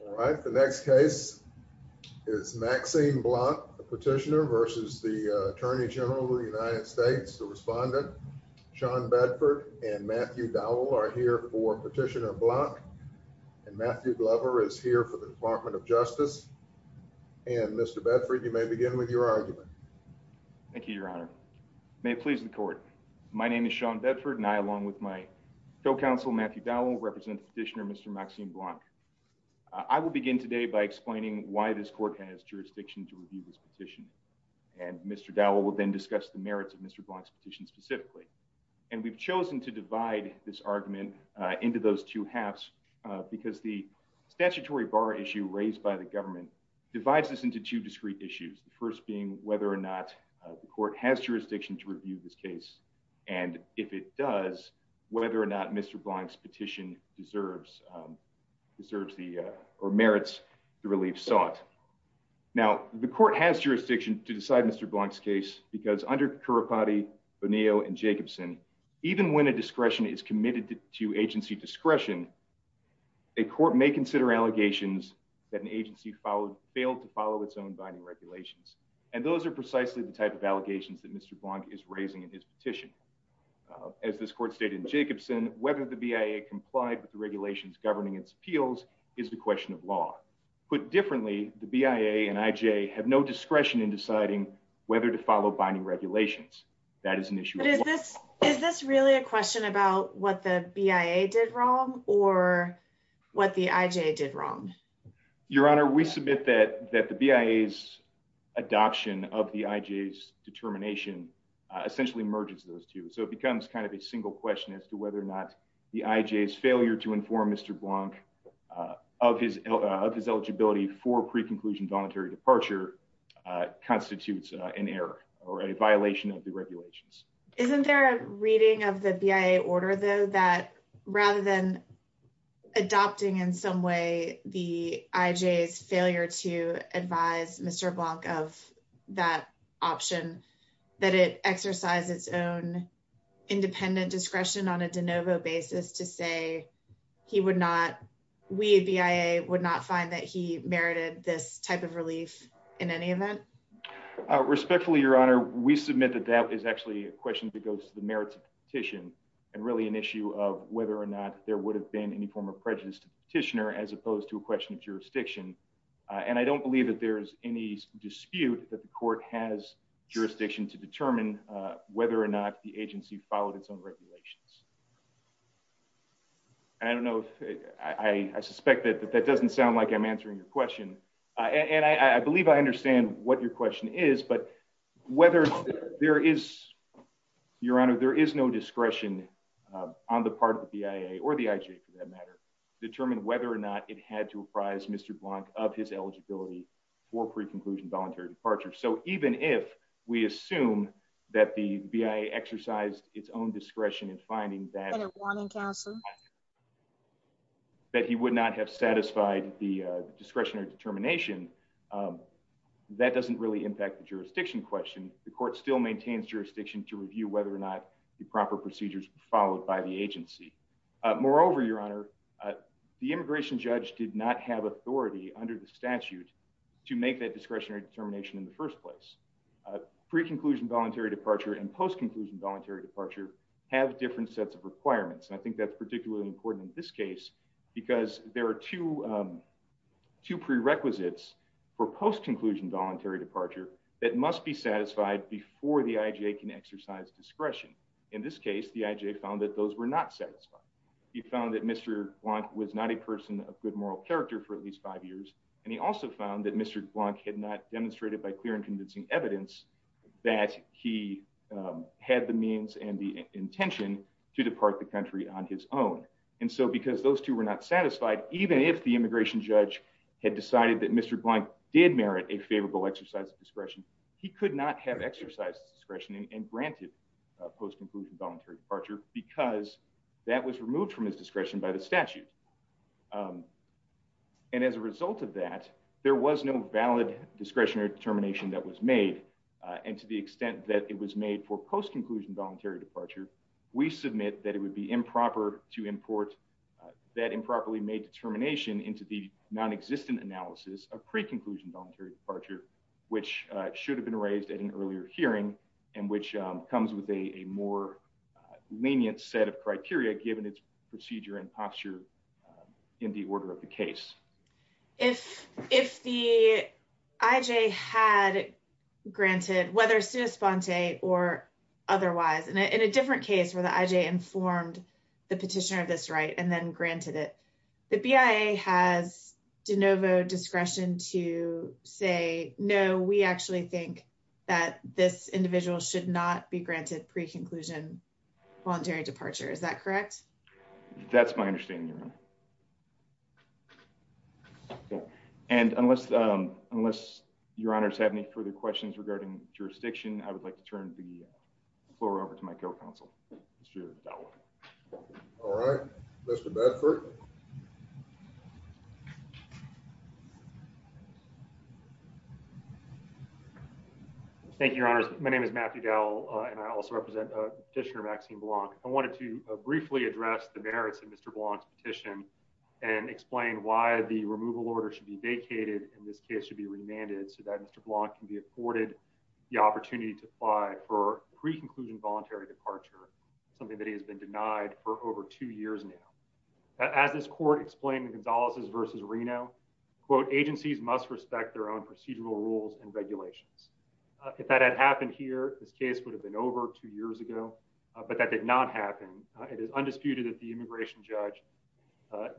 All right, the next case is Maxime Blanc, a petitioner versus the Attorney General of the United States. The respondent, Sean Bedford and Matthew Dowell, are here for Petitioner Blanc. And Matthew Glover is here for the Department of Justice. And Mr. Bedford, you may begin with your argument. Thank you, Your Honor. May it please the court. My name is Sean Bedford, and I, along with my co-counsel Matthew Dowell, represent Petitioner Mr. Maxime Blanc. I will begin today by explaining why this court has jurisdiction to review this petition. And Mr. Dowell will then discuss the merits of Mr. Blanc's petition specifically. And we've chosen to divide this argument into those two halves, because the statutory bar issue raised by the government divides this into two discrete issues. The first being whether or not the court has jurisdiction to review this case. And if it does, whether or not Mr. Blanc's petition deserves or merits the relief sought. Now, the court has jurisdiction to decide Mr. Blanc's case, because under Currapati, Bonillo, and Jacobson, even when a discretion is committed to agency discretion, a court may consider allegations that an agency failed to follow its own binding regulations. And those are precisely the type of allegations that Mr. Blanc is raising in his petition. As this court stated in Jacobson, whether the BIA complied with regulations governing its appeals is a question of law. Put differently, the BIA and IJ have no discretion in deciding whether to follow binding regulations. That is an issue. But is this really a question about what the BIA did wrong or what the IJ did wrong? Your Honor, we submit that the BIA's adoption of the IJ's determination essentially merges those two. So it becomes kind of a single question as to whether or not the IJ's failure to inform Mr. Blanc of his eligibility for pre-conclusion voluntary departure constitutes an error or a violation of the regulations. Isn't there a reading of the BIA order, though, that rather than adopting in some way the IJ's failure to advise Mr. Blanc of that option, that it exercised its own independent discretion on a de novo basis to say we at BIA would not find that he merited this type of relief in any event? Respectfully, Your Honor, we submit that that is actually a question that goes to the merits of the petition and really an issue of whether or not there would have been any form of prejudice to the petitioner as opposed to a question of jurisdiction. And I don't believe that there's any dispute that the court has jurisdiction to whether or not the agency followed its own regulations. I don't know. I suspect that that doesn't sound like I'm answering your question. And I believe I understand what your question is, but whether there is, Your Honor, there is no discretion on the part of the BIA or the IJ, for that matter, to determine whether or not it had to apprise Mr. Blanc of his eligibility for pre-conclusion voluntary departure. So even if we assume that the BIA exercised its own discretion in finding that a warning council, that he would not have satisfied the discretion or determination, that doesn't really impact the jurisdiction question. The court still maintains jurisdiction to review whether or not the proper procedures followed by the agency. Moreover, Your Honor, the immigration judge did not have authority under the statute to make that discretionary determination in the first place. Pre-conclusion voluntary departure and post-conclusion voluntary departure have different sets of requirements. And I think that's particularly important in this case because there are two prerequisites for post-conclusion voluntary departure that must be satisfied before the IJ can exercise discretion. In this case, the IJ found that those were not satisfied. He found that Mr. Blanc was not a person of good moral character for at least five years. And he also found that Mr. Blanc had not demonstrated by clear and convincing evidence that he had the means and the intention to depart the country on his own. And so because those two were not satisfied, even if the immigration judge had decided that Mr. Blanc did merit a favorable exercise of discretion, he could not have exercised discretion and granted post-conclusion voluntary departure because that was removed from his discretion by the statute. And as a result of that, there was no valid discretionary determination that was made. And to the extent that it was made for post-conclusion voluntary departure, we submit that it would be improper to import that improperly made determination into the non-existent analysis of pre-conclusion voluntary departure, which should have been raised at an earlier hearing and which comes with a more lenient set of criteria given its procedure and posture in the order of the case. If the IJ had granted, whether sui sponte or otherwise, in a different case where the IJ informed the petitioner of this right and then granted it, the BIA has de novo discretion to say, no, we actually think that this individual should not be granted pre-conclusion voluntary departure. Is that correct? That's my understanding. And unless unless your honors have any further questions regarding jurisdiction, I would like to turn the floor over to my co-counsel. All right, Mr. Bedford. Thank you, your honors. My name is Matthew Dowell and I also represent petitioner Maxine Blanc. I wanted to briefly address the merits of Mr. Blanc's petition and explain why the removal order should be vacated in this case should be remanded so that Mr. Blanc can be afforded the opportunity to apply for pre-conclusion voluntary departure, something that has been must respect their own procedural rules and regulations. If that had happened here, this case would have been over two years ago, but that did not happen. It is undisputed that the immigration judge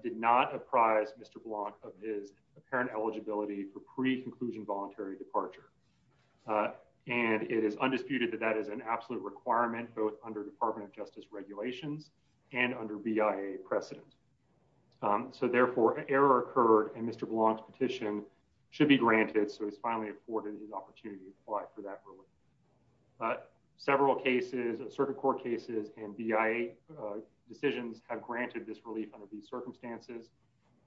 did not apprise Mr. Blanc of his apparent eligibility for pre-conclusion voluntary departure. And it is undisputed that that is an absolute requirement, both under Department of Justice regulations and under BIA precedent. So therefore, an error occurred in Mr. Blanc's petition should be granted. So he's finally afforded the opportunity to apply for that. But several cases, certain court cases and BIA decisions have granted this relief under these circumstances.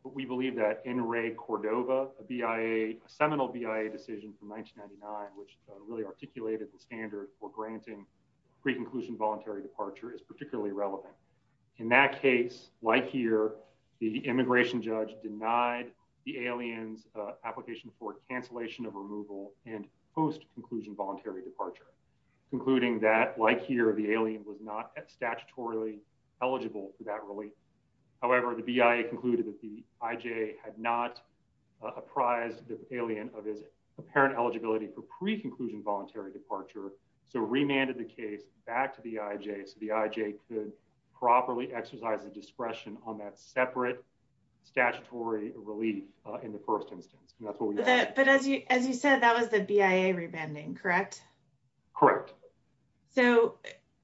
But we believe that in Ray Cordova, a BIA, a seminal BIA decision from 1999, which really articulated the standard for granting pre-conclusion voluntary departure is particularly relevant. In that case, like here, the immigration judge denied the alien's application for cancellation of removal and post-conclusion voluntary departure, concluding that like here, the alien was not statutorily eligible for that relief. However, the BIA concluded that the IJ had not apprised the alien of his apparent eligibility for pre-conclusion voluntary departure. So remanded the case back to the IJ. So the IJ could properly exercise the discretion on that separate statutory relief in the first instance. But as you said, that was the BIA remanding, correct? Correct. So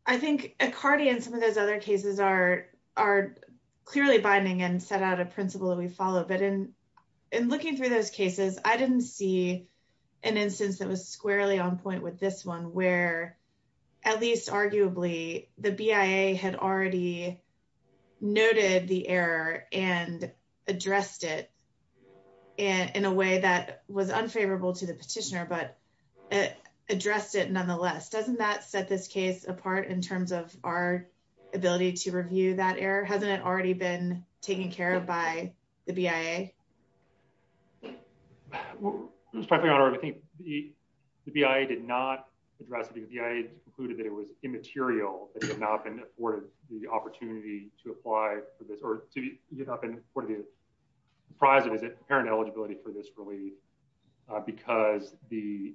I think Accardi and some of those other cases are clearly binding and set out a squarely on point with this one where at least arguably the BIA had already noted the error and addressed it in a way that was unfavorable to the petitioner, but addressed it nonetheless. Doesn't that set this case apart in terms of our ability to review that error? Hasn't it already been taken care of by the BIA? Well, Your Honor, I think the BIA did not address it. The BIA concluded that it was immaterial, that it had not been afforded the opportunity to apply for this, or it had not been afforded apprised of his apparent eligibility for this relief because the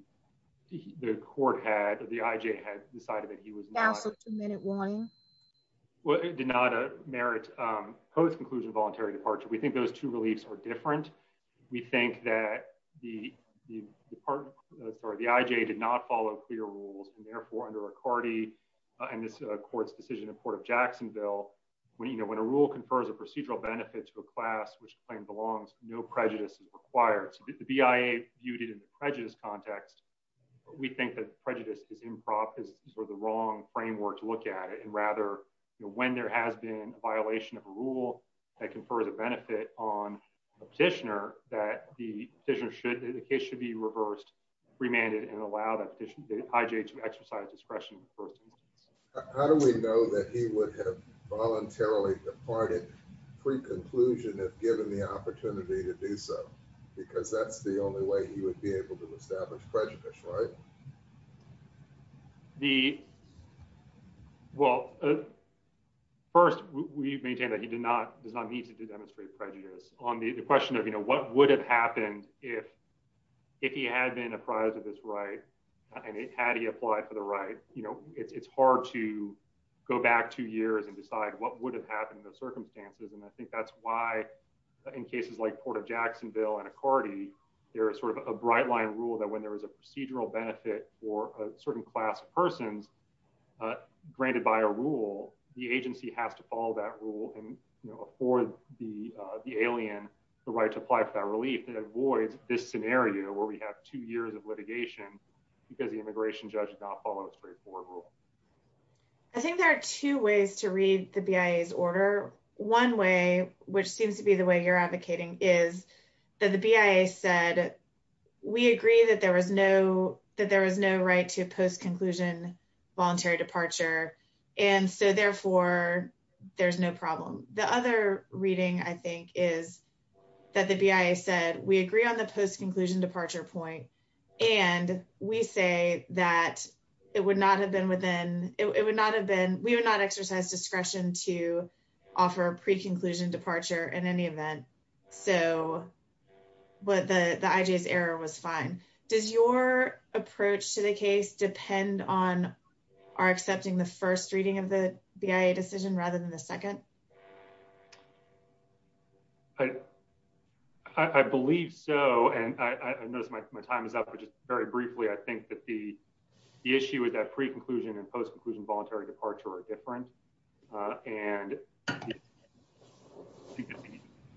court had, the IJ had decided that he was not. So two-minute warning? Well, it did not merit Coase's conclusion of voluntary departure. We think those two reliefs are different. We think that the IJ did not follow clear rules and therefore under Accardi and this court's decision in court of Jacksonville, when a rule confers a procedural benefit to a class which claim belongs, no prejudice is required. So the BIA viewed it in the prejudice context. We think that prejudice is improv, is sort of the wrong framework to look at it. And rather, when there has been a violation of a rule that confers a benefit on a petitioner that the petitioner should, the case should be reversed, remanded and allow that IJ to exercise discretion. How do we know that he would have voluntarily departed pre-conclusion if given the opportunity to do so? Because that's the only way he would be able to establish prejudice, right? The, well, first we maintain that he did not, does not need to demonstrate prejudice on the question of, you know, what would have happened if, if he had been apprised of this right and had he applied for the right, you know, it's hard to go back two years and decide what would have happened in those circumstances. And I think that's why in cases like Port of Jacksonville and Accordi, there is sort of a bright line rule that when there was a procedural benefit for a certain class of persons granted by a rule, the agency has to follow that rule and, you know, afford the alien the right to apply for that relief. It avoids this scenario where we have two years of litigation because the immigration judge did not follow a straightforward rule. I think there are two ways to read the BIA's order. One way, which seems to be the way you're advocating, is that the BIA said we agree that there was no, that there was no right to post-conclusion voluntary departure and so therefore there's no problem. The other reading, I think, is that the BIA said we agree on the post-conclusion departure point and we say that it would not have been, it would not have been, we would not exercise discretion to offer a pre-conclusion departure in any event. So the IJ's error was fine. Does your approach to the case depend on our accepting the first reading of the BIA decision rather than the second? I believe so and I notice my time is up, but just very briefly, I think that the post-conclusion voluntary departure are different and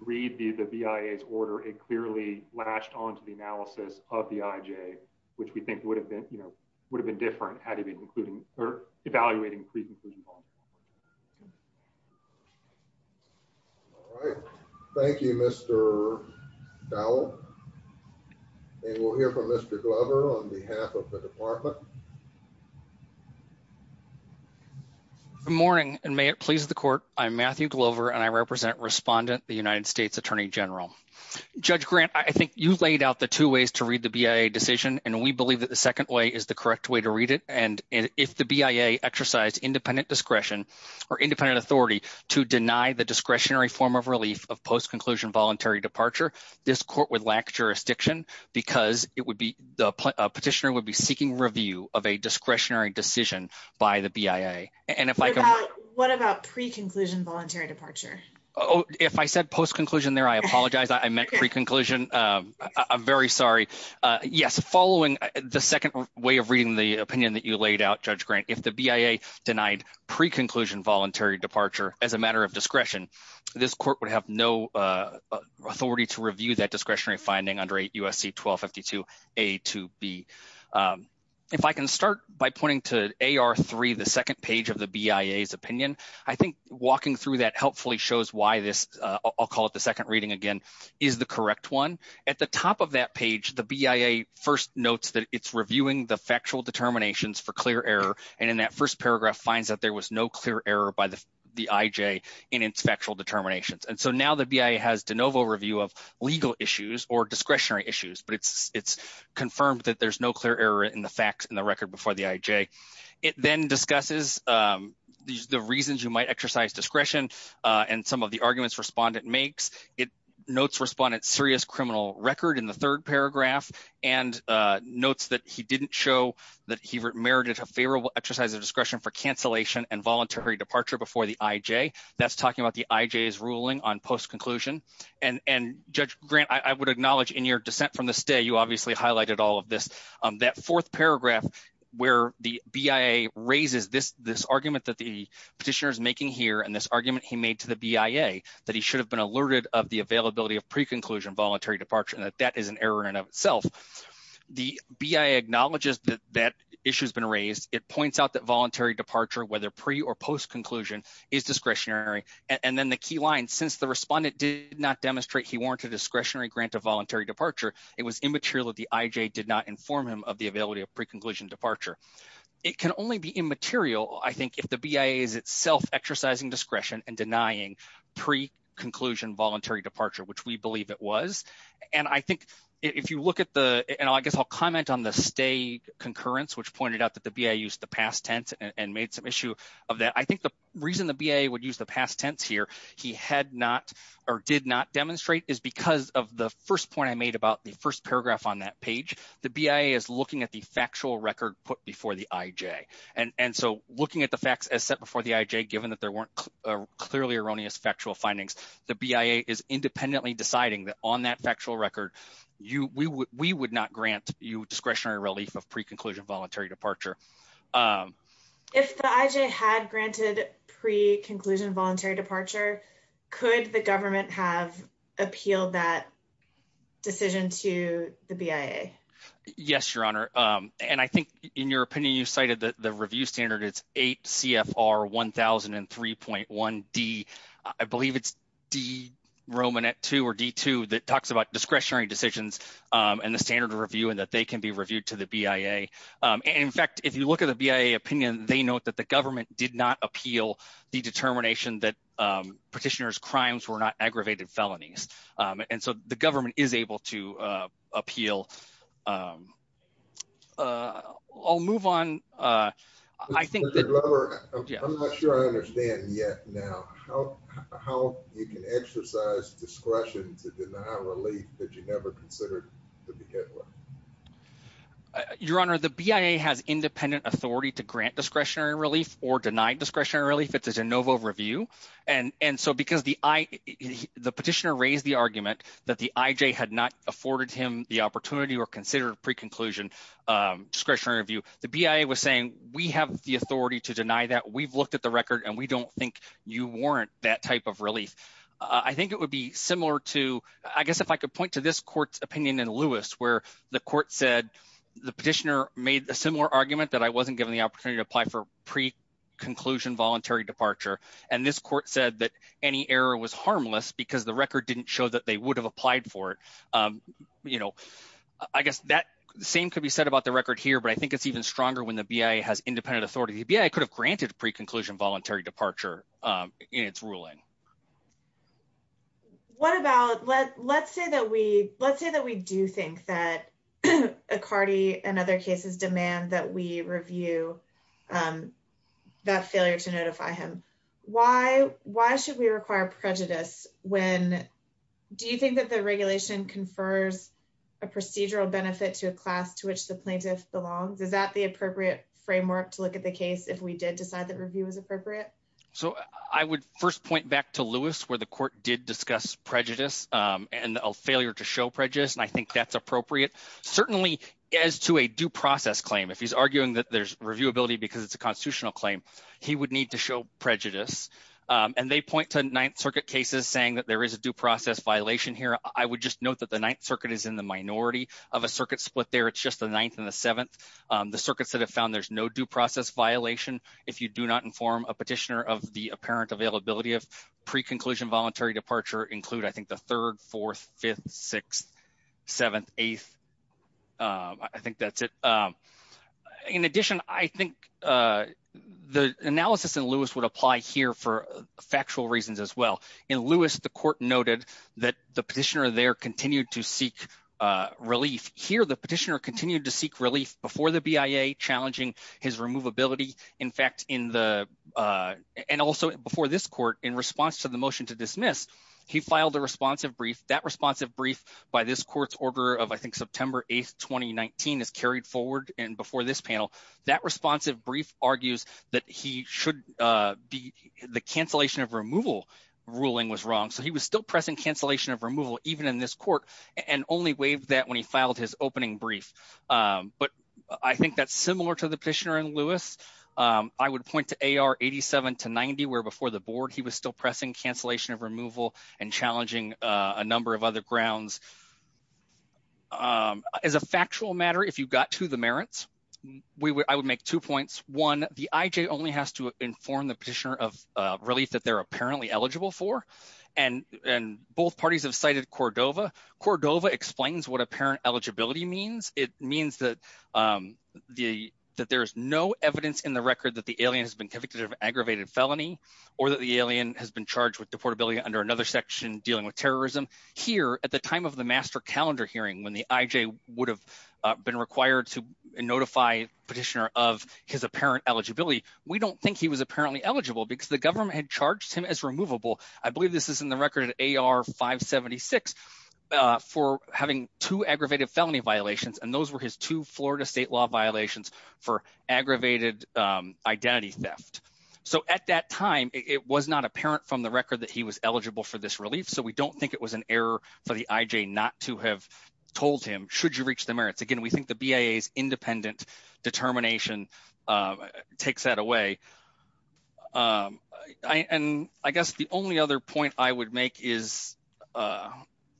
read the BIA's order. It clearly latched onto the analysis of the IJ, which we think would have been, you know, would have been different had it been including or evaluating pre-conclusion. All right. Thank you, Mr. Dowell and we'll hear from Mr. Glover on behalf of the department. Good morning and may it please the court. I'm Matthew Glover and I represent Respondent, the United States Attorney General. Judge Grant, I think you laid out the two ways to read the BIA decision and we believe that the second way is the correct way to read it and if the BIA exercised independent discretion or independent authority to deny the discretionary form of relief of post-conclusion voluntary departure, this court would lack jurisdiction because it would be, a petitioner would be seeking review of a discretionary decision by the BIA. What about pre-conclusion voluntary departure? If I said post-conclusion there, I apologize. I meant pre-conclusion. I'm very sorry. Yes, following the second way of reading the opinion that you laid out, Judge Grant, if the BIA denied pre-conclusion voluntary departure as a matter of discretion, this court would have no authority to review that discretionary finding under USC 1252 A to B. If I can start by pointing to AR 3, the second page of the BIA's opinion, I think walking through that helpfully shows why this, I'll call it the second reading again, is the correct one. At the top of that page, the BIA first notes that it's reviewing the factual determinations for clear error and in that first paragraph finds that there was no clear error by the IJ in its factual determinations. And so now the BIA has de novo review of legal issues or discretionary issues, but it's confirmed that there's no clear error in the facts in the record before the IJ. It then discusses the reasons you might exercise discretion and some of the arguments respondent makes. It notes respondent's serious criminal record in the third paragraph and notes that he didn't show that he merited a favorable exercise of discretion for cancellation and the IJ's ruling on post-conclusion. And Judge Grant, I would acknowledge in your dissent from the stay, you obviously highlighted all of this. That fourth paragraph where the BIA raises this argument that the petitioner is making here and this argument he made to the BIA that he should have been alerted of the availability of pre-conclusion voluntary departure and that is an error in and of itself. The BIA acknowledges that that issue has been raised. It points out that the key line, since the respondent did not demonstrate he warranted discretionary grant of voluntary departure, it was immaterial that the IJ did not inform him of the availability of pre-conclusion departure. It can only be immaterial, I think, if the BIA is itself exercising discretion and denying pre-conclusion voluntary departure, which we believe it was. And I think if you look at the and I guess I'll comment on the stay concurrence, which pointed out that the BIA used the past tense and made some issue of that. I think the reason the BIA would the past tense here he had not or did not demonstrate is because of the first point I made about the first paragraph on that page. The BIA is looking at the factual record put before the IJ and so looking at the facts as set before the IJ, given that there weren't clearly erroneous factual findings, the BIA is independently deciding that on that factual record we would not grant you discretionary relief of pre-conclusion voluntary departure. If the IJ had granted pre-conclusion voluntary departure, could the government have appealed that decision to the BIA? Yes, your honor, and I think in your opinion you cited that the review standard is 8 CFR 1003.1D. I believe it's D Romanet 2 or D2 that talks about discretionary decisions and the standard review and that they can be reviewed to the BIA. And in fact, if you look at the BIA opinion, they note that the government did not appeal the determination that petitioner's crimes were not aggravated felonies. And so the government is able to appeal. I'll move on. I think I'm not sure I understand yet now how you can exercise discretion to deny relief that you never considered to be Hitler. Your honor, the BIA has independent authority to grant discretionary relief or denied discretionary relief. It's a de novo review and so because the petitioner raised the argument that the IJ had not afforded him the opportunity or considered pre-conclusion discretionary review, the BIA was saying we have the authority to deny that. We've looked at the record and we don't think you warrant that type of relief. I think it would be similar to, I guess if I could point to this opinion in Lewis, where the court said the petitioner made a similar argument that I wasn't given the opportunity to apply for pre-conclusion voluntary departure. And this court said that any error was harmless because the record didn't show that they would have applied for it. I guess that same could be said about the record here, but I think it's even stronger when the BIA has independent authority. The BIA could have granted pre-conclusion voluntary departure in its ruling. What about, let's say that we do think that Accardi and other cases demand that we review that failure to notify him. Why should we require prejudice when, do you think that the regulation confers a procedural benefit to a class to which the plaintiff belongs? Is that the appropriate framework to look at the case if we did decide that review was appropriate? So I would first point back to Lewis where the court did discuss prejudice and a failure to show prejudice. And I think that's appropriate. Certainly as to a due process claim, if he's arguing that there's reviewability because it's a constitutional claim, he would need to show prejudice. And they point to Ninth Circuit cases saying that there is a due process violation here. I would just note that the Ninth Circuit is in the minority of a circuit split there. It's just the Ninth and the Seventh. The circuits that have found there's no due process violation if you do not inform a petitioner of the apparent availability of pre-conclusion voluntary departure include, I think, the Third, Fourth, Fifth, Sixth, Seventh, Eighth. I think that's it. In addition, I think the analysis in Lewis would apply here for factual reasons as well. In Lewis, the court noted that the petitioner there continued to seek relief. Here, the petitioner continued to seek relief before the BIA, challenging his removability. In fact, in the, and also before this court, in response to the motion to dismiss, he filed a responsive brief. That responsive brief by this court's order of, I think, September 8, 2019 is carried forward. And before this panel, that responsive brief argues that he should be, the cancellation of removal ruling was wrong. So he was still pressing cancellation of removal, even in this court, and only waived that when he filed his opening brief. But I think that's similar to the petitioner in Lewis. I would point to AR 87 to 90, where before the board, he was still pressing cancellation of removal and challenging a number of other grounds. As a factual matter, if you got to the merits, I would make two points. One, the IJ only has to inform the petitioner of relief that they're apparently eligible for. And both parties have Cordova. Cordova explains what apparent eligibility means. It means that there's no evidence in the record that the alien has been convicted of aggravated felony, or that the alien has been charged with deportability under another section dealing with terrorism. Here, at the time of the master calendar hearing, when the IJ would have been required to notify petitioner of his apparent eligibility, we don't think he was apparently eligible because the government had charged him I believe this is in the record at AR 576, for having two aggravated felony violations. And those were his two Florida state law violations for aggravated identity theft. So at that time, it was not apparent from the record that he was eligible for this relief. So we don't think it was an error for the IJ not to have told him should you reach the merits. Again, we think the BIA's independent determination takes that away. And I guess the only other point I would make is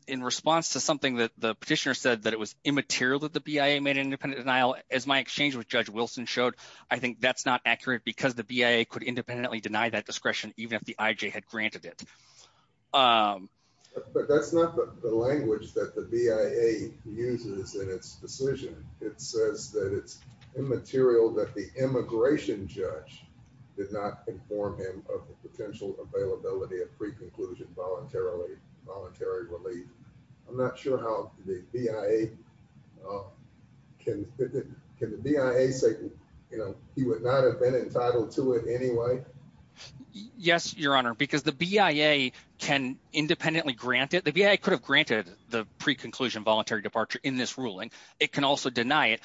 in response to something that the petitioner said that it was immaterial that the BIA made an independent denial, as my exchange with Judge Wilson showed, I think that's not accurate because the BIA could independently deny that discretion even if the IJ had granted it. But that's not the language that the BIA uses in its decision. It says that it's immaterial that the immigration judge did not inform him of the potential availability of pre-conclusion voluntary relief. I'm not sure how the BIA, can the BIA say, you know, he would not have been entitled to it anyway? Yes, Your Honor, because the BIA can independently grant it. The BIA could have granted the pre-conclusion voluntary departure in this ruling. It can also deny it.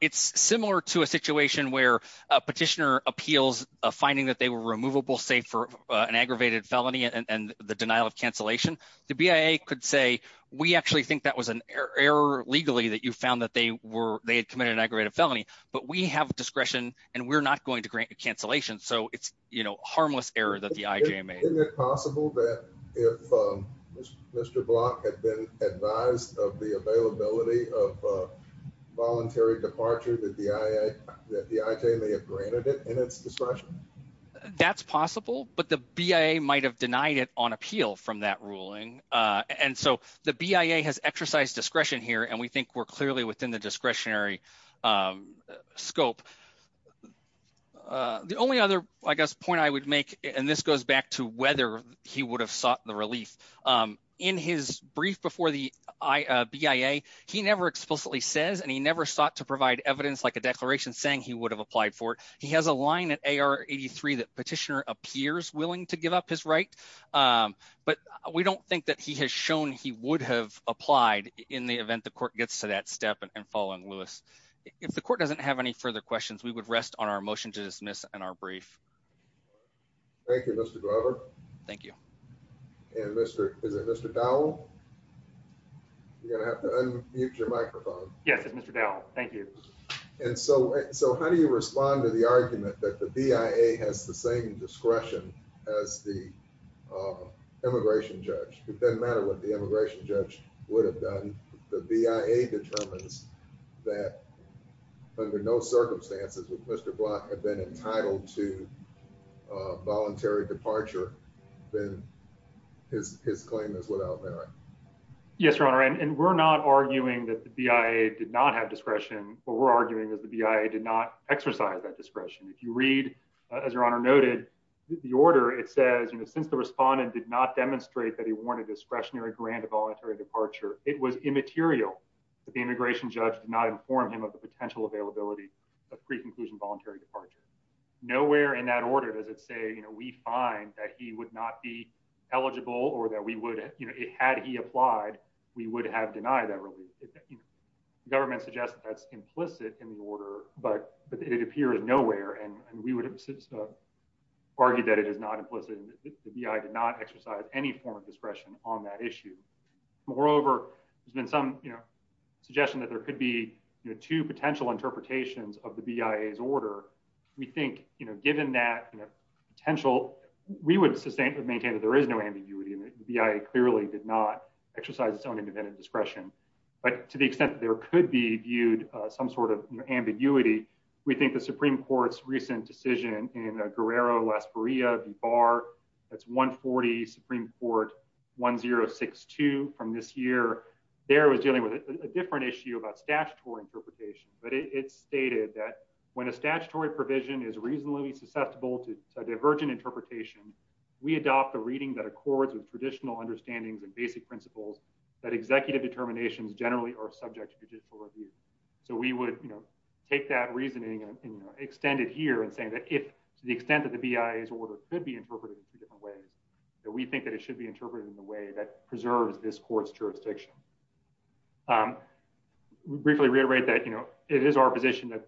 It's similar to a situation where a petitioner appeals finding that they were removable, safe for an aggravated felony and the denial of cancellation. The BIA could say, we actually think that was an error legally that you found that they were, they had committed an aggravated felony, but we have discretion and we're not going to grant a cancellation. So it's, you know, harmless error that the IJ made. Isn't it possible that if Mr. Block had been advised of the availability of voluntary departure that the IJ may have granted it in its discretion? That's possible, but the BIA might have denied it on appeal from that ruling. And so the BIA has exercised discretion here and we think we're clearly within the discretionary scope. The only other, I guess, point I would make, and this goes back to whether he would have sought the relief. In his brief before the BIA, he never explicitly says and he never sought to provide evidence like a declaration saying he would have applied for it. He has a line at AR 83 that petitioner appears willing to give up his right, but we don't think that he has shown he would have applied in the event the court gets to that step and following Lewis. If the court doesn't have any further questions, we would rest on our motion to dismiss and our brief. Thank you, Mr. Glover. Thank you. And Mr. is it Mr. Dowell? You're going to have to unmute your microphone. Yes, it's Mr. Dowell. Thank you. And so, so how do you uh immigration judge? It doesn't matter what the immigration judge would have done. The BIA determines that under no circumstances would Mr. Block have been entitled to a voluntary departure then his his claim is without merit. Yes, your honor, and we're not arguing that the BIA did not have discretion. What we're arguing is the BIA did not exercise that discretion. If you read, as your honor noted, the order, it says, you know, since the respondent did not demonstrate that he wanted discretionary grant of voluntary departure, it was immaterial that the immigration judge did not inform him of the potential availability of pre-conclusion voluntary departure. Nowhere in that order does it say, you know, we find that he would not be eligible or that we would, you know, it had he applied, we would have denied that relief. The government suggests that's implicit in the order, but it appears nowhere. And we would have argued that it is not implicit in the BIA did not exercise any form of discretion on that issue. Moreover, there's been some, you know, suggestion that there could be, you know, two potential interpretations of the BIA's order. We think, you know, given that, you know, potential, we would sustain, maintain that there is no ambiguity in the BIA clearly did not accept that there could be viewed some sort of ambiguity. We think the Supreme Court's recent decision in Guerrero, Las Maria, the bar that's 140 Supreme Court 1062 from this year, there was dealing with a different issue about statutory interpretation, but it's stated that when a statutory provision is reasonably susceptible to divergent interpretation, we adopt the reading that accords with traditional understandings and basic principles that executive determinations generally are subject to judicial review. So we would, you know, take that reasoning and extend it here and saying that if to the extent that the BIA's order could be interpreted in two different ways that we think that it should be interpreted in the way that preserves this court's jurisdiction. We briefly reiterate that, you know, it is our position that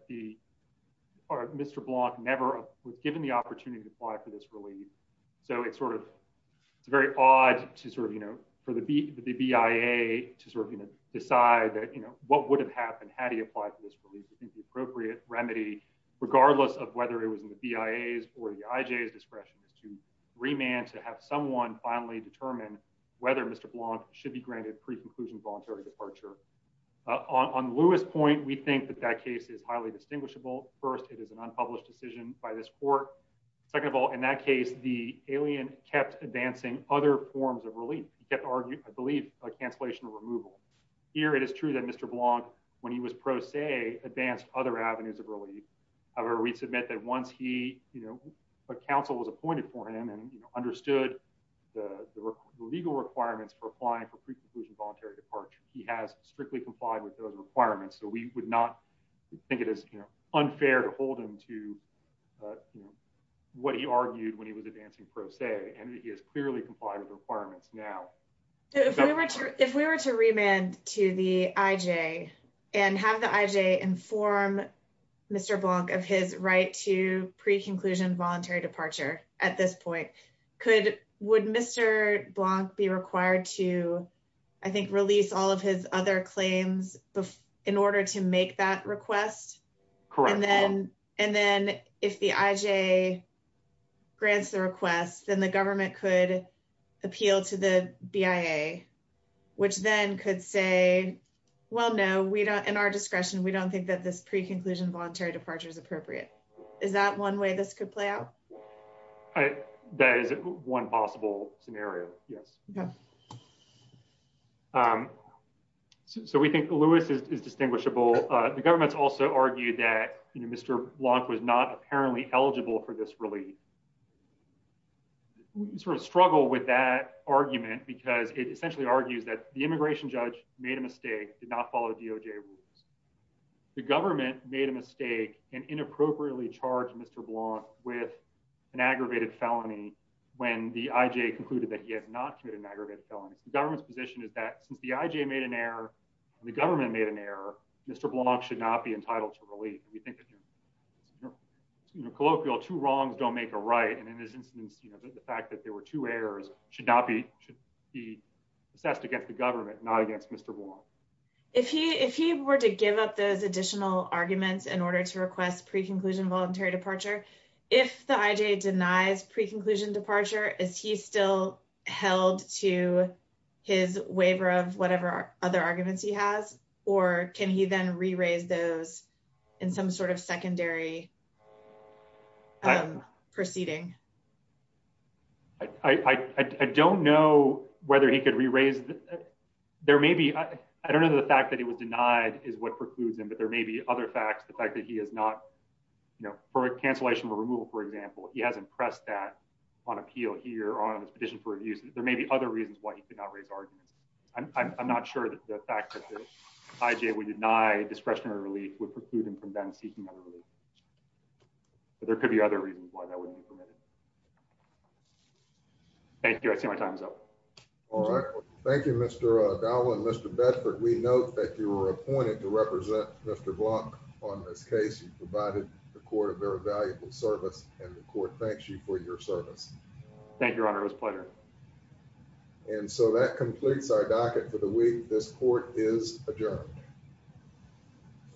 Mr. Blanc never was given the opportunity to apply for this relief. So it's sort of, it's very odd to sort of, you know, for the BIA to sort of, you know, decide that, you know, what would have happened had he applied for this relief. We think the appropriate remedy, regardless of whether it was in the BIA's or the IJ's discretion is to remand to have someone finally determine whether Mr. Blanc should be granted pre-conclusion voluntary departure. On Louis' point, we think that that case is highly distinguishable. First, it is an unpublished decision by this court. Second of all, in that case, the alien kept advancing other forms of relief. He kept arguing, I believe, a cancellation of removal. Here, it is true that Mr. Blanc, when he was pro se, advanced other avenues of relief. However, we submit that once he, you know, a counsel was appointed for him and understood the legal requirements for applying for pre-conclusion voluntary departure, he has strictly complied with those requirements. So we would not think it is unfair to hold him to, you know, what he argued when he was advancing pro se and he has clearly complied with the requirements now. If we were to remand to the IJ and have the IJ inform Mr. Blanc of his right to pre-conclusion voluntary departure at this point, would Mr. Blanc be required to, I think, release all of his other claims in order to make that request? Correct. And then if the IJ grants the request, then the government could appeal to the BIA, which then could say, well, no, we don't, in our discretion, we don't think that this pre-conclusion voluntary departure is appropriate. Is that one way this could play out? That is one possible scenario. Yes. So we think Lewis is distinguishable. The government's also argued that Mr. Blanc was not apparently eligible for this relief. We sort of struggle with that argument because it essentially argues that the immigration judge made a mistake, did not follow DOJ rules. The government made a mistake and inappropriately charged Mr. Blanc with an aggravated felony when the IJ concluded that he had not committed an aggravated felony. The government's position is that since the IJ made an error and the government made an error, Mr. Blanc should not be entitled to relief. We think that colloquial two wrongs don't make a right. And in this instance, the fact that there were two errors should not be assessed against the those additional arguments in order to request pre-conclusion voluntary departure. If the IJ denies pre-conclusion departure, is he still held to his waiver of whatever other arguments he has, or can he then re-raise those in some sort of secondary proceeding? I don't know whether he could re-raise. There may be, I don't know the fact that it was denied is what precludes him, but there may be other facts. The fact that he has not, you know, for a cancellation of a removal, for example, he hasn't pressed that on appeal here on his petition for reviews. There may be other reasons why he could not raise arguments. I'm not sure that the fact that the IJ would deny discretionary relief would preclude him from then seeking other relief, but there could be other reasons why that wouldn't be permitted. Thank you. I see my time's up. All right. Thank you, Mr. Dowell and Mr. Bedford. We note that you were appointed to represent Mr. Block on this case. You provided the court a very valuable service and the court thanks you for your service. Thank you, Your Honor. It was a pleasure. And so that completes our docket for the week. This court is adjourned.